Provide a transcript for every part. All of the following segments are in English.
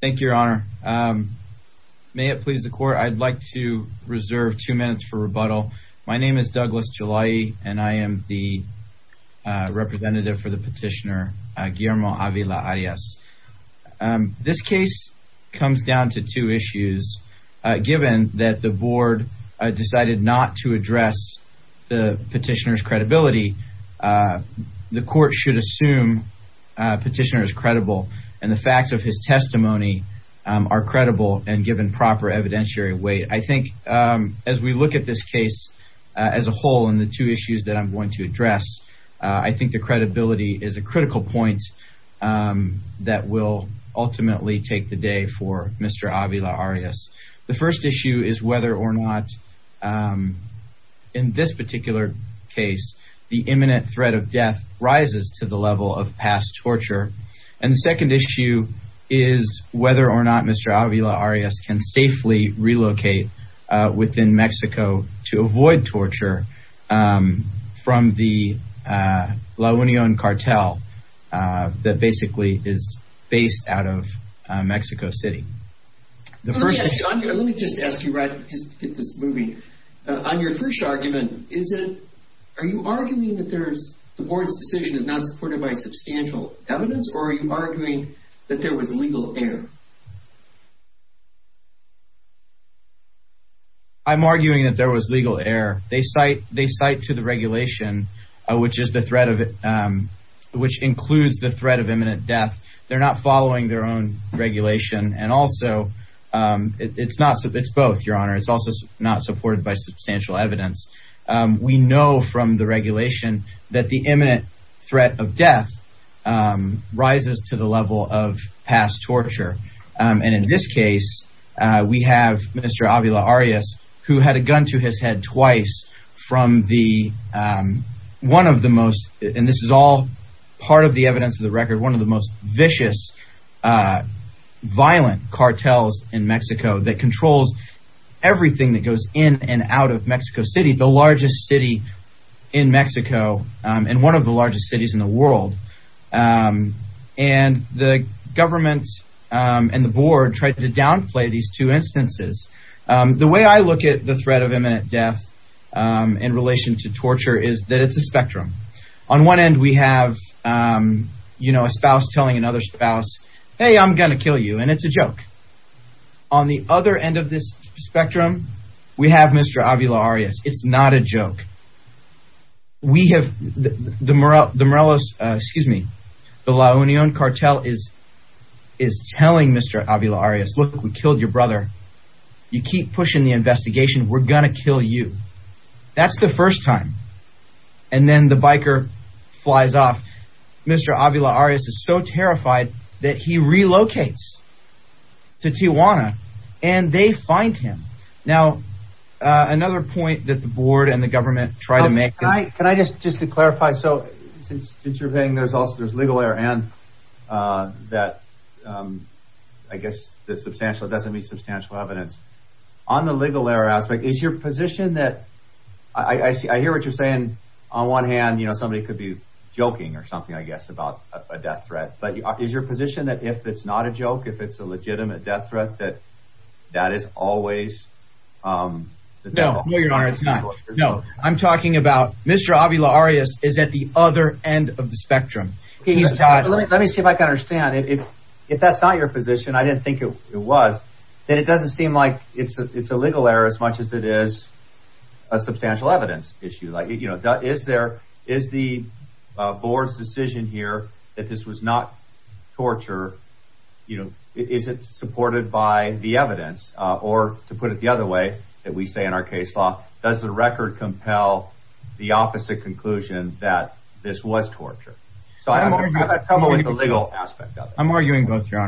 Thank you, Your Honor. May it please the court. I'd like to reserve two minutes for rebuttal. My name is Douglas Gelay, and I am the representative for the petitioner, Guillermo Avila-Arias. This case comes down to two issues. Given that the board decided not to address the petitioner's credibility, the court should assume petitioner is credible. And the facts of his testimony are credible and given proper evidentiary weight. I think as we look at this case as a whole and the two issues that I'm going to address, I think the credibility is a critical point that will ultimately take the day for Mr. Avila-Arias. The first issue is whether or not in this particular case, the imminent threat of death rises to the level of past torture. And the second issue is whether or not Mr. Avila-Arias can safely relocate within Mexico to avoid torture from the La Unión cartel that basically is based out of Mexico City. Let me just ask you right, just to get this moving, on your first argument, are you arguing that the board's decision is not supported by substantial evidence, or are you arguing that there was legal error? I'm arguing that there was legal error. They cite to the regulation, which includes the threat of imminent death. They're not following their own regulation. And also, it's both, Your Honor. It's also not supported by substantial evidence. We know from the regulation that the imminent threat of death rises to the level of past torture. And in this case, we have Mr. Avila-Arias, who had a gun to his head twice from the, one of the most, and this is all part of the evidence of the record, one of the most vicious, violent cartels in Mexico that controls everything that goes in and out of Mexico City the largest city in Mexico, and one of the largest cities in the world. And the government and the board tried to downplay these two instances. The way I look at the threat of imminent death in relation to torture is that it's a spectrum. On one end, we have, you know, a spouse telling another spouse, hey, I'm going to kill you. And it's a joke. On the other end of this spectrum, we have Mr. Avila-Arias. It's not a joke. We have the Morelos, excuse me, the La Union cartel is telling Mr. Avila-Arias, look, we killed your brother. You keep pushing the investigation. We're going to kill you. That's the first time. And then the biker flies off. Mr. Avila-Arias is so terrified that he relocates to Tijuana and they find him. Now, another point that the board and the government tried to make. Can I just to clarify. So since you're saying there's also there's legal error and that, I guess, the substantial doesn't mean substantial evidence on the legal error aspect. Is your position that I hear what you're saying. On one hand, you know, somebody could be joking or something, I guess, about a death threat. But is your position that if it's not a joke, if it's a legitimate death threat, that that is always. No, no, Your Honor, it's not. No, I'm talking about Mr. Avila-Arias is at the other end of the spectrum. He's a child. Let me see if I can understand if that's not your position, I didn't think it was, then it doesn't seem like it's a legal error as much as it is a substantial evidence issue. Like, you know, is there is the board's decision here that this was not torture? You know, is it supported by the evidence or to put it the other way that we say in our case law, does the record compel the opposite conclusion that this was torture? So I have a problem with the legal aspect of it. I'm arguing both, Your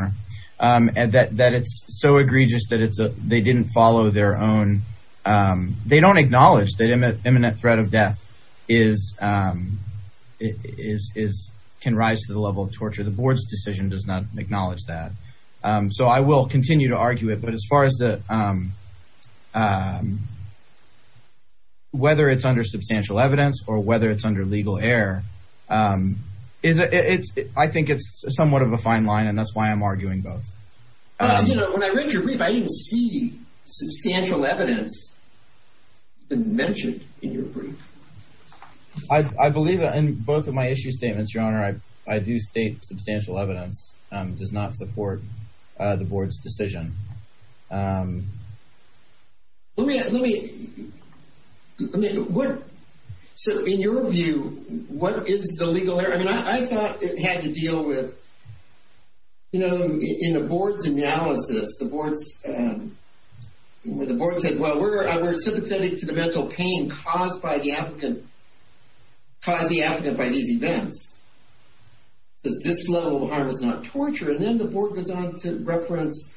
Honor, that it's so egregious that it's they didn't follow their own. They don't acknowledge that imminent threat of death is, can rise to the level of torture. The board's decision does not acknowledge that. So I will continue to argue it. But as far as the, whether it's under substantial evidence or whether it's under legal error, I think it's somewhat of a fine line. And that's why I'm arguing both. But you know, when I read your brief, I didn't see substantial evidence mentioned in your brief. I believe that in both of my issue statements, Your Honor, that substantial evidence does not support the board's decision. Let me, let me, let me, what, so in your view, what is the legal error? I mean, I thought it had to deal with, you know, in the board's analysis, the board's, the board said, well, we're sympathetic to the mental pain caused by the applicant, caused the applicant by these events. Does this level of harm is not torture? And then the board goes on to reference,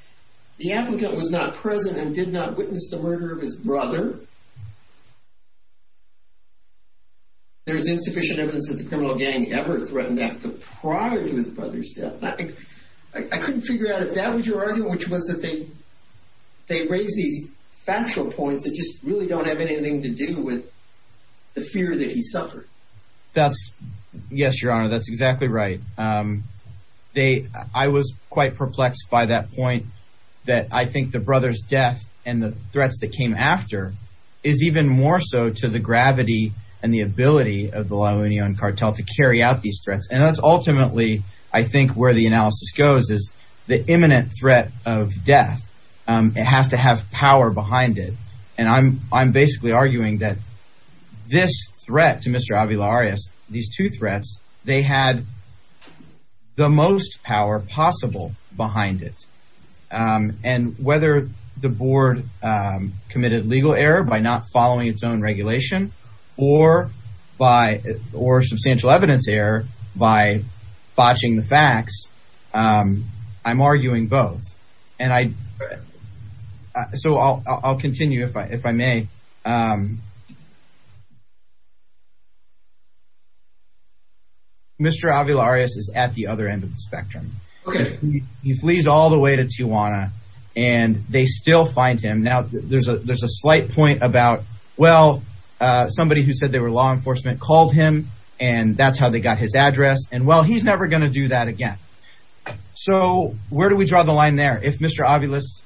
the applicant was not present and did not witness the murder of his brother. There's insufficient evidence that the criminal gang ever threatened that prior to his brother's death. I couldn't figure out if that was your argument, which was that they, they raise these factual points that just really don't have anything to do with the fear that he suffered. That's yes, Your Honor. That's exactly right. They, I was quite perplexed by that point that I think the brother's death and the threats that came after is even more so to the gravity and the ability of the La Union cartel to carry out these threats. And that's ultimately, I think where the analysis goes is the imminent threat of death, it has to have power behind it. And I'm, I'm basically arguing that this threat to Mr. Avila-Arias, these two threats, they had the most power possible behind it. And whether the board committed legal error by not following its own regulation or by, or substantial evidence error by botching the facts, I'm arguing both. And I, so I'll, I'll continue if I, if I may. Um, Mr. Avila-Arias is at the other end of the spectrum. He flees all the way to Tijuana and they still find him. Now there's a, there's a slight point about, well, uh, somebody who said they were law enforcement called him and that's how they got his address. And well, he's never going to do that again. So where do we draw the line there? If Mr.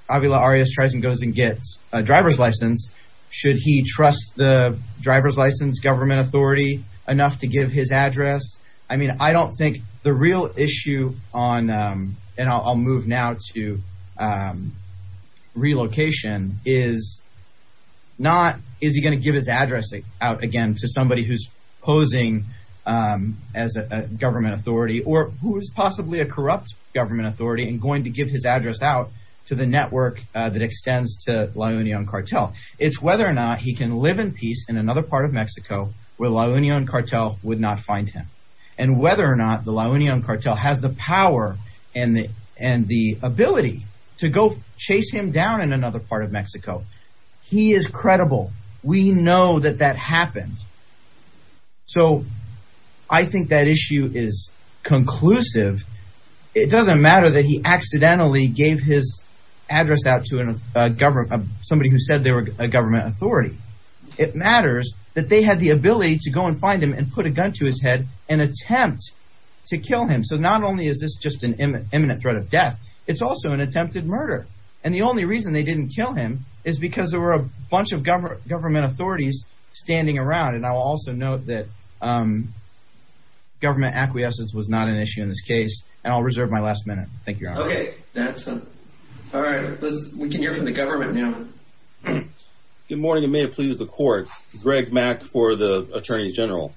Avila-Arias tries and goes and gets a driver's license, should he trust the driver's license government authority enough to give his address? I mean, I don't think the real issue on, um, and I'll, I'll move now to, um, relocation is not, is he going to give his address out again to somebody who's posing, um, as a government authority or who is possibly a corrupt government authority and going to give his address out to the It's whether or not he can live in peace in another part of Mexico where La Union Cartel would not find him and whether or not the La Union Cartel has the power and the, and the ability to go chase him down in another part of Mexico. He is credible. We know that that happened. So I think that issue is conclusive. It doesn't matter that he accidentally gave his address out to a government, somebody who said they were a government authority. It matters that they had the ability to go and find him and put a gun to his head and attempt to kill him. So not only is this just an imminent threat of death, it's also an attempted murder. And the only reason they didn't kill him is because there were a bunch of government, government authorities standing around. And I will also note that, um, government acquiescence was not an issue in this case. And I'll reserve my last minute. Thank you. Okay. That's all right. Let's, we can hear from the government now. Good morning. It may have pleased the court, Greg Mack for the attorney general.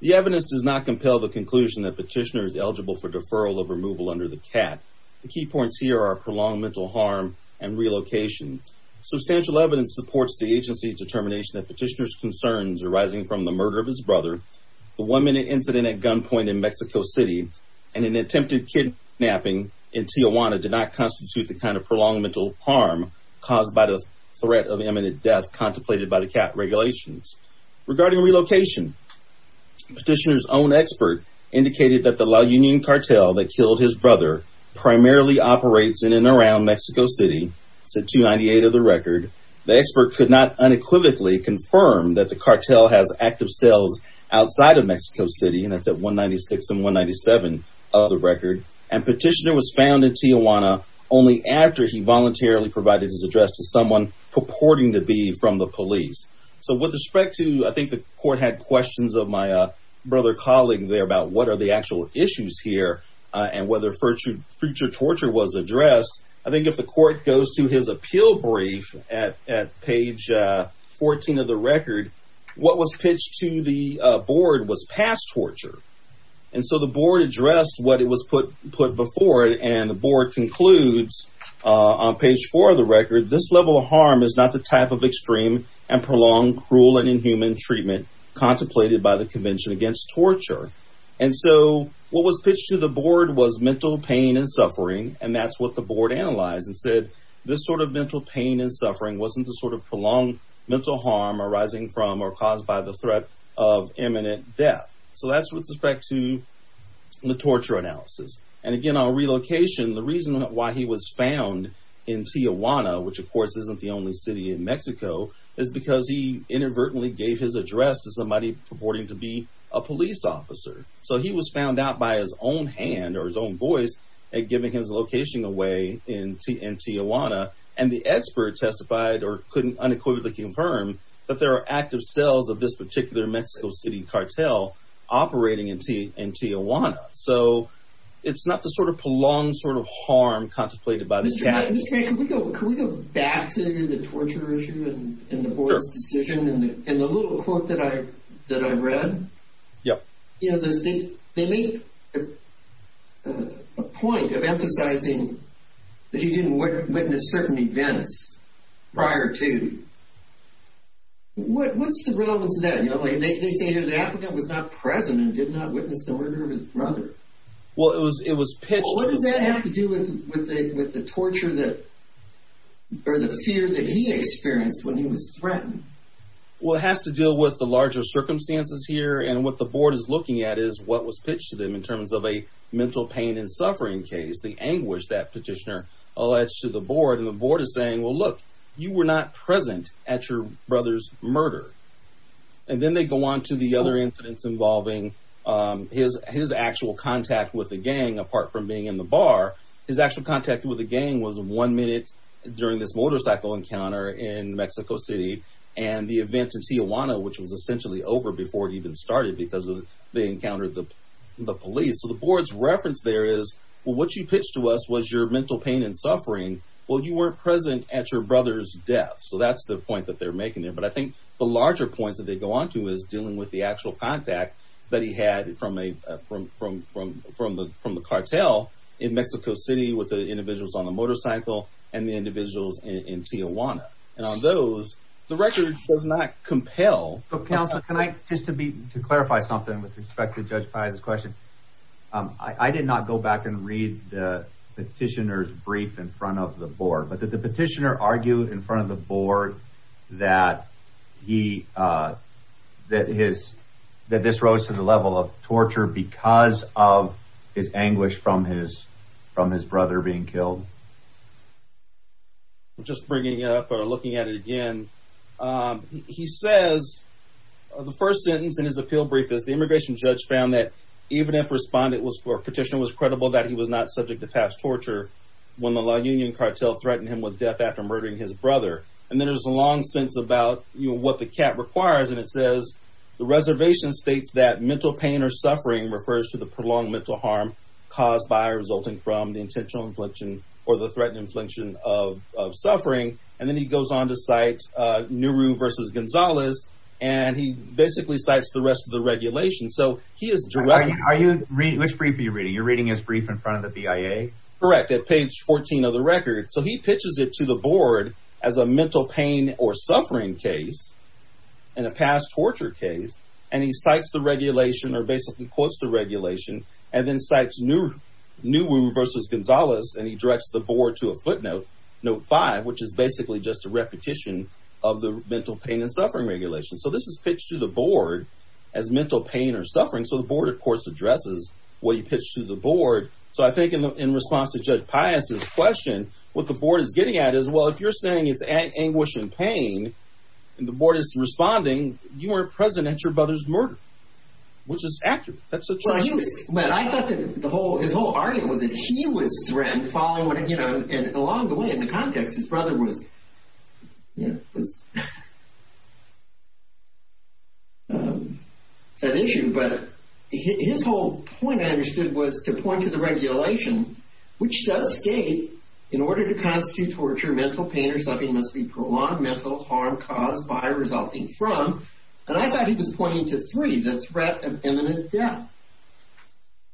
The evidence does not compel the conclusion that petitioner is eligible for deferral of removal under the cat. The key points here are prolonged mental harm and relocation. Substantial evidence supports the agency's determination that petitioner's concerns arising from the murder of his brother, the one minute incident at gunpoint in Mexico city, and an attempted kidnapping in Tijuana did not constitute the kind of prolonged mental harm caused by the threat of imminent death contemplated by the cat regulations. Regarding relocation, petitioner's own expert indicated that the La Union cartel that killed his brother primarily operates in and around Mexico city, said 298 of the record, the expert could not unequivocally confirm that the cartel has active cells outside of Mexico city. And that's at 196 and 197 of the record. And petitioner was found in Tijuana only after he voluntarily provided his address to someone purporting to be from the police. So with respect to, I think the court had questions of my brother colleague there about what are the actual issues here and whether further torture was addressed. I think if the court goes to his appeal brief at page 14 of the record, what was pitched to the board was past torture. And so the board addressed what it was put before it and the board concludes on page four of the record, this level of harm is not the type of extreme and prolonged cruel and inhuman treatment contemplated by the convention against torture. And so what was pitched to the board was mental pain and suffering. And that's what the board analyzed and said this sort of mental pain and suffering wasn't the sort of prolonged mental harm arising from or caused by the threat of imminent death. So that's with respect to the torture analysis. And again, on relocation, the reason why he was found in Tijuana, which of course isn't the only city in Mexico, is because he inadvertently gave his address to somebody purporting to be a police officer. So he was found out by his own hand or his own voice at giving his location away in Tijuana. And the expert testified or couldn't unequivocally confirm that there are active cells of this particular Mexico City cartel operating in Tijuana. So it's not the sort of prolonged sort of harm contemplated by this. Mr. May, can we go back to the torture issue in the board's decision in the little quote that I that I read? Yeah. You know, they make a point of emphasizing that he didn't witness certain events prior to. What's the relevance of that? They say that the applicant was not present and did not witness the murder of his brother. Well, it was it was pitched. What does that have to do with the with the torture that or the fear that he experienced when he was threatened? Well, it has to deal with the larger circumstances here and what the board is looking at is what was pitched to them in terms of a mental pain and suffering case. The anguish that petitioner alleged to the board and the board is saying, well, look, you were not present at your brother's murder. And then they go on to the other incidents involving his his actual contact with the gang, apart from being in the bar, his actual contact with the gang was one minute during this motorcycle encounter in Mexico City and the event in Tijuana, which was essentially over before it even started because they encountered the police. So the board's reference there is what you pitched to us was your mental pain and suffering. Well, you weren't present at your brother's death. So that's the point that they're making there. But I think the larger points that they go on to is dealing with the actual contact that he had from a from from from from the from the cartel in Mexico City with the individuals on the motorcycle and the individuals in Tijuana. And on those, the record does not compel. But counsel, can I just to be to clarify something with respect to Judge Paz's question, I did not go back and read the petitioner's brief in front of the board, but that the petitioner argued in front of the board that he that his that this rose to the level of torture because of his anguish from his from his brother being killed. Just bringing up or looking at it again, he says the first sentence in his appeal brief is the immigration judge found that even if responded was for petitioner was credible that he was not subject to pass torture when the La Union cartel threatened him with death after murdering his brother. And then there's a long sense about what the cat requires. And it says the reservation states that mental pain or suffering refers to the prolonged mental harm caused by resulting from the intentional infliction or the threatened infliction of suffering. And then he goes on to cite Nehru versus Gonzalez. And he basically cites the rest of the regulation. So he is driving. Are you read which brief you're reading? You're reading his brief in front of the BIA. Correct. At page 14 of the record. So he pitches it to the board as a mental pain or suffering case in a past torture case. And he cites the regulation or basically quotes the regulation and then cites Nehru Nehru versus Gonzalez. And he directs the board to a footnote note five, which is basically just a repetition of the mental pain and suffering regulation. So this is pitched to the board as mental pain or suffering. So the board, of course, addresses what he pitched to the judge. Pious question. What the board is getting at is, well, if you're saying it's an anguish and pain and the board is responding, you are present at your brother's murder, which is accurate. That's a choice. But I thought that the whole his whole argument was that he was threatened following, you know, and along the way in the context, his brother was, you know, was. An issue, but his whole point I understood was to the regulation, which does state in order to constitute torture, mental pain or suffering must be prolonged mental harm caused by resulting from. And I thought he was pointing to three, the threat of imminent death.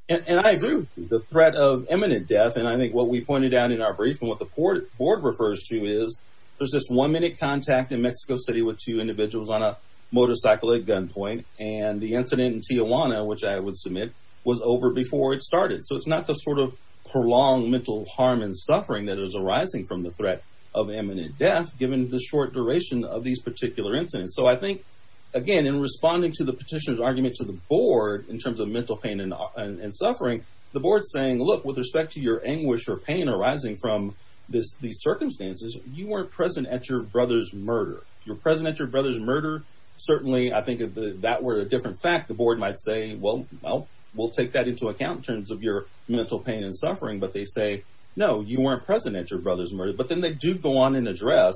And I agree with the threat of imminent death, and I think what we pointed out in our brief and what the board board refers to is there's this one minute contact in Mexico City with two individuals on a motorcycle at gunpoint and the incident in Tijuana, which I would submit was over before it was not the sort of prolonged mental harm and suffering that is arising from the threat of imminent death, given the short duration of these particular incidents. So I think, again, in responding to the petitioner's argument to the board in terms of mental pain and suffering, the board's saying, look, with respect to your anguish or pain arising from this, these circumstances, you weren't present at your brother's murder. You're present at your brother's murder. Certainly, I think that were a different fact. The board might say, well, well, we'll take that into account in your mental pain and suffering. But they say, no, you weren't present at your brother's murder. But then they do go on and address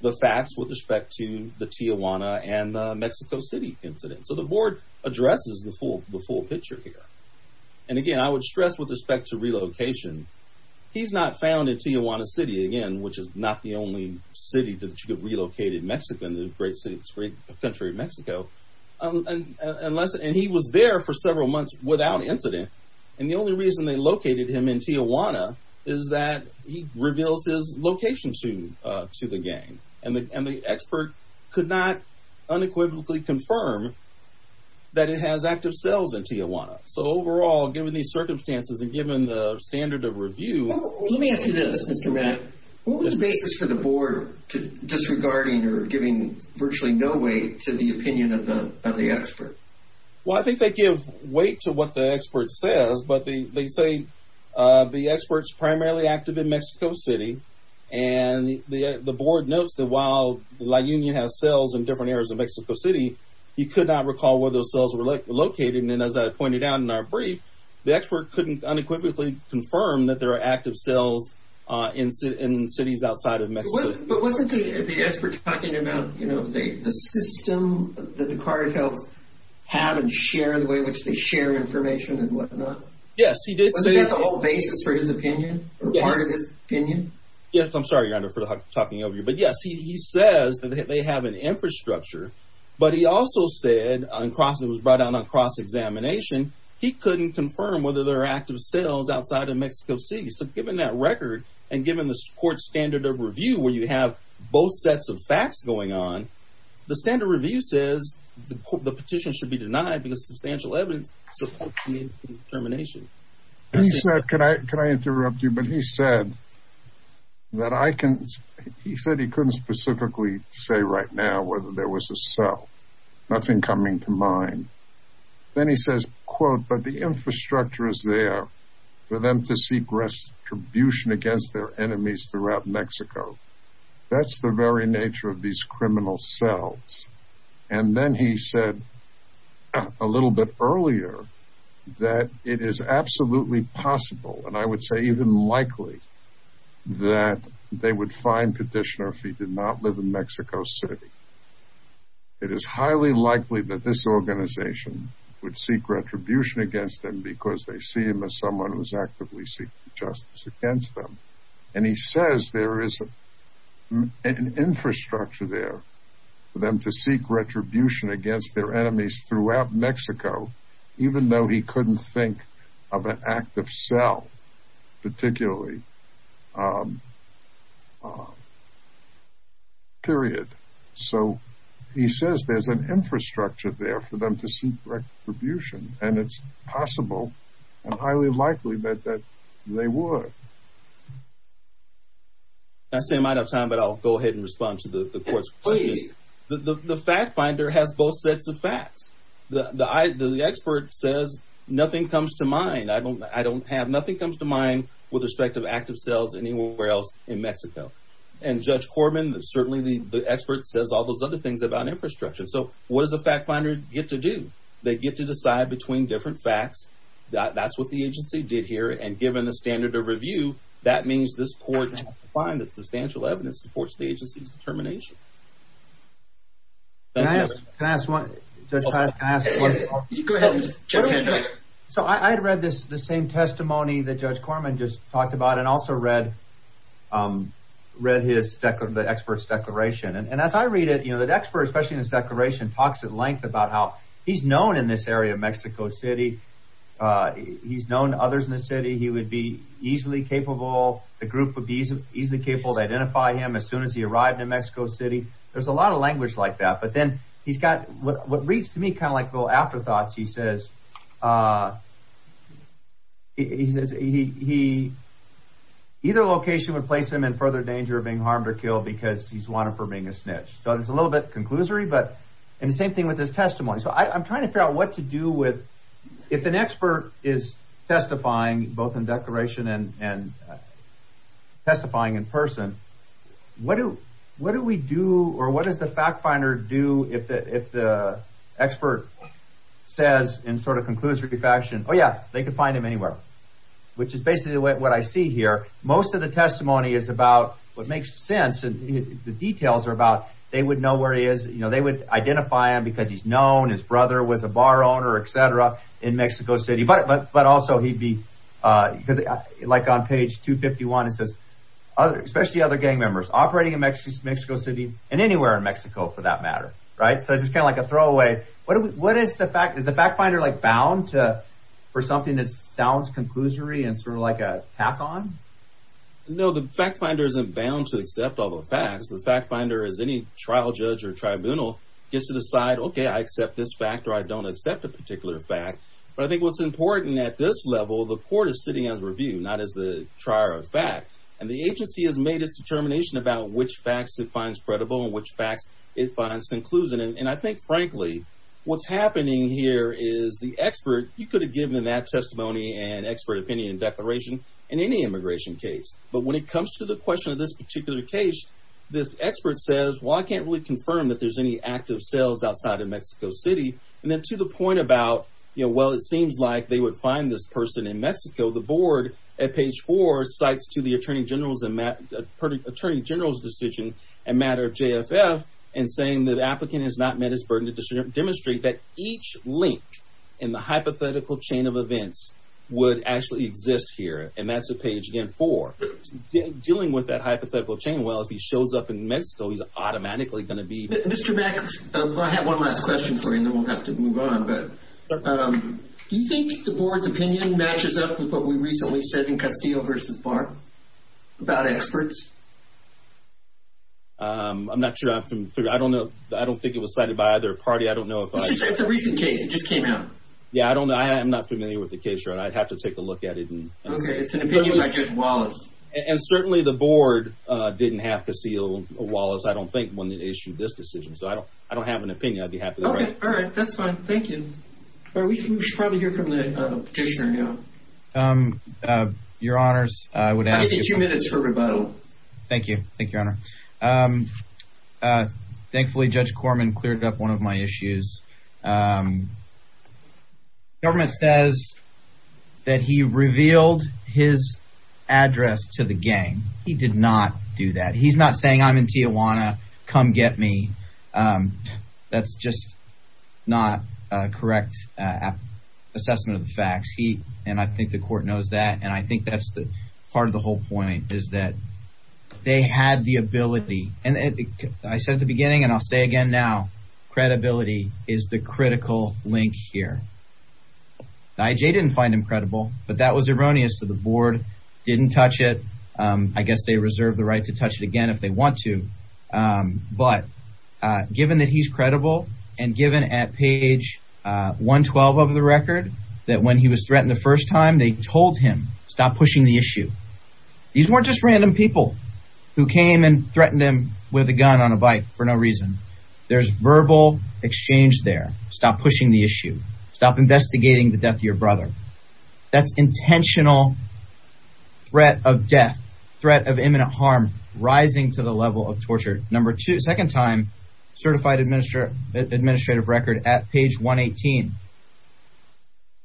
the facts with respect to the Tijuana and Mexico City incident. So the board addresses the full the full picture here. And again, I would stress with respect to relocation, he's not found in Tijuana City again, which is not the only city that you could relocated Mexico and the great city, great country of Mexico. And unless and he was there for several months without incident. And the only reason they located him in Tijuana is that he reveals his location soon to the gang. And the expert could not unequivocally confirm that it has active cells in Tijuana. So overall, given these circumstances and given the standard of review, let me ask you this, Mr. Mac, what was the basis for the board disregarding or giving virtually no weight to the opinion of the of the expert? Well, I think they give weight to what the expert says. But they say the experts primarily active in Mexico City. And the board notes that while La Union has cells in different areas of Mexico City, you could not recall where those cells were located. And as I pointed out in our brief, the expert couldn't unequivocally confirm that there are active cells in cities outside of Mexico. But wasn't the experts talking about, you know, the system that the way in which they share information and whatnot? Yes, he did say that the whole basis for his opinion or part of his opinion. Yes. I'm sorry, your honor for talking over you. But yes, he says that they have an infrastructure. But he also said on crossings brought on a cross examination. He couldn't confirm whether there are active cells outside of Mexico City. So given that record and given the court standard of review where you have both sets of facts going on, the standard review says the petition should be evidence of determination. Can I can I interrupt you? But he said that I can. He said he couldn't specifically say right now whether there was a cell, nothing coming to mind. Then he says, quote, but the infrastructure is there for them to seek restitution against their enemies throughout Mexico. That's the very nature of these criminal cells. And then he said a little bit earlier that it is absolutely possible and I would say even likely that they would find petitioner if he did not live in Mexico City. It is highly likely that this organization would seek retribution against them because they see him as someone who is actively seeking justice against them. And he says there is an infrastructure there for them to seek retribution against their enemies throughout Mexico, even though he couldn't think of an active cell particularly. Period. So he says there's an infrastructure there for them to seek retribution and it's possible and they would. I say I might have time, but I'll go ahead and respond to the court's plea. The fact finder has both sets of facts. The expert says nothing comes to mind. I don't I don't have nothing comes to mind with respect of active cells anywhere else in Mexico. And Judge Corbin, certainly the expert says all those other things about infrastructure. So what does the fact finder get to do? They get to decide between different facts. That's what the agency did here. And given the standard of review, that means this court has to find that substantial evidence supports the agency's determination. Can I ask one? Go ahead. So I had read this, the same testimony that Judge Corbin just talked about and also read, read his expert's declaration. And as I read it, you know, the expert, especially in his declaration, talks at length about how he's known others in the city. He would be easily capable. The group would be easily capable to identify him as soon as he arrived in Mexico City. There's a lot of language like that. But then he's got what reads to me kind of like little afterthoughts, he says. He says he either location would place him in further danger of being harmed or killed because he's wanted for being a snitch. So it's a little bit conclusory. But and the same thing with his testimony. So I'm trying to figure out what to do with if an expert is testifying both in declaration and testifying in person. What do what do we do or what does the fact finder do if the expert says in sort of conclusory faction, oh, yeah, they could find him anywhere, which is basically what I see here. Most of the testimony is about what makes sense. And the details are about they would know where he is. You know, they would identify him because he's known his brother was a bar owner, etc. in Mexico City. But but but also he'd be like on page 251. It says other especially other gang members operating in Mexico City and anywhere in Mexico for that matter. Right. So it's kind of like a throwaway. What what is the fact is the fact finder like bound to for something that sounds conclusory and sort of like a tack on? No, the fact finder isn't bound to accept all the facts. The fact finder is any trial judge or tribunal gets to decide, OK, I accept this fact or I don't accept a particular fact. But I think what's important at this level, the court is sitting as review, not as the trier of fact. And the agency has made its determination about which facts it finds credible and which facts it finds conclusion. And I think, frankly, what's happening here is the expert. You could have given that testimony and expert opinion declaration in any immigration case. But when it comes to the question of this particular case, this expert says, well, I can't really confirm that there's any active sales outside of Mexico City. And then to the point about, you know, well, it seems like they would find this person in Mexico. The board at page four cites to the attorney general's and attorney general's decision a matter of J.F.F. and saying that applicant has not met his burden to demonstrate that each link in the hypothetical chain of events would actually exist here. And that's a page again for dealing with that hypothetical chain. Well, if he shows up in Mexico, he's automatically going to be Mr. I have one last question for you. And we'll have to move on. But do you think the board's opinion matches up with what we recently said in Castillo versus Barr about experts? I'm not sure. I don't know. I don't think it was cited by either party. I don't know if it's a recent case. It just came out. Yeah, I don't know. I am not familiar with the case. And I'd have to take a look at it. And it's an opinion by Judge Wallace. And certainly the board didn't have to steal Wallace. I don't think when they issued this decision. So I don't I don't have an opinion. I'd be happy. All right. That's fine. Thank you. Are we trying to hear from the petitioner now? Your honors, I would ask you two minutes for rebuttal. Thank you. Thank you, Your Honor. Thankfully, Judge Corman cleared up one of my issues. Government says that he revealed his address to the gang. He did not do that. He's not saying I'm in Tijuana. Come get me. That's just not a correct assessment of the facts. He and I think the court knows that. And I think that's the part of the whole point is that they had the ability. And I said at the beginning and I'll say again now, credibility is the critical link here. I.J. didn't find him credible, but that was erroneous to the board. Didn't touch it. I guess they reserve the right to touch it again if they want to. But given that he's credible and given at page 112 of the record that when he was threatened the first time, they told him stop pushing the issue. These weren't just random people who came and threatened him with a gun on a bike for no reason. There's verbal exchange there. Stop pushing the issue. Stop investigating the death of your brother. That's intentional threat of death, threat of imminent harm rising to the level of torture. Number two, second time certified administrator, administrative record at page 118.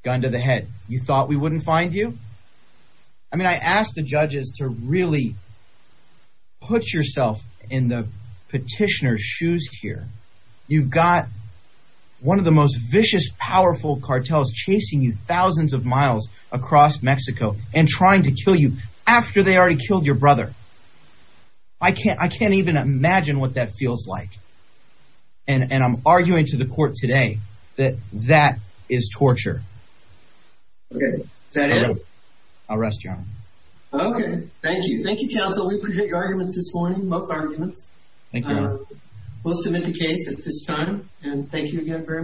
Gun to the head. You thought we wouldn't find you? I mean, I asked the judges to really. Put yourself in the petitioner's shoes here. You've got one of the most vicious, powerful cartels chasing you thousands of miles across Mexico and trying to kill you after they already killed your brother. I can't I can't even imagine what that feels like. And I'm arguing to the court today that that is torture. OK, I'll rest you on. OK, thank you. Thank you, counsel. We appreciate your arguments this morning. Both arguments. Thank you. We'll submit the case at this time. And thank you again very much.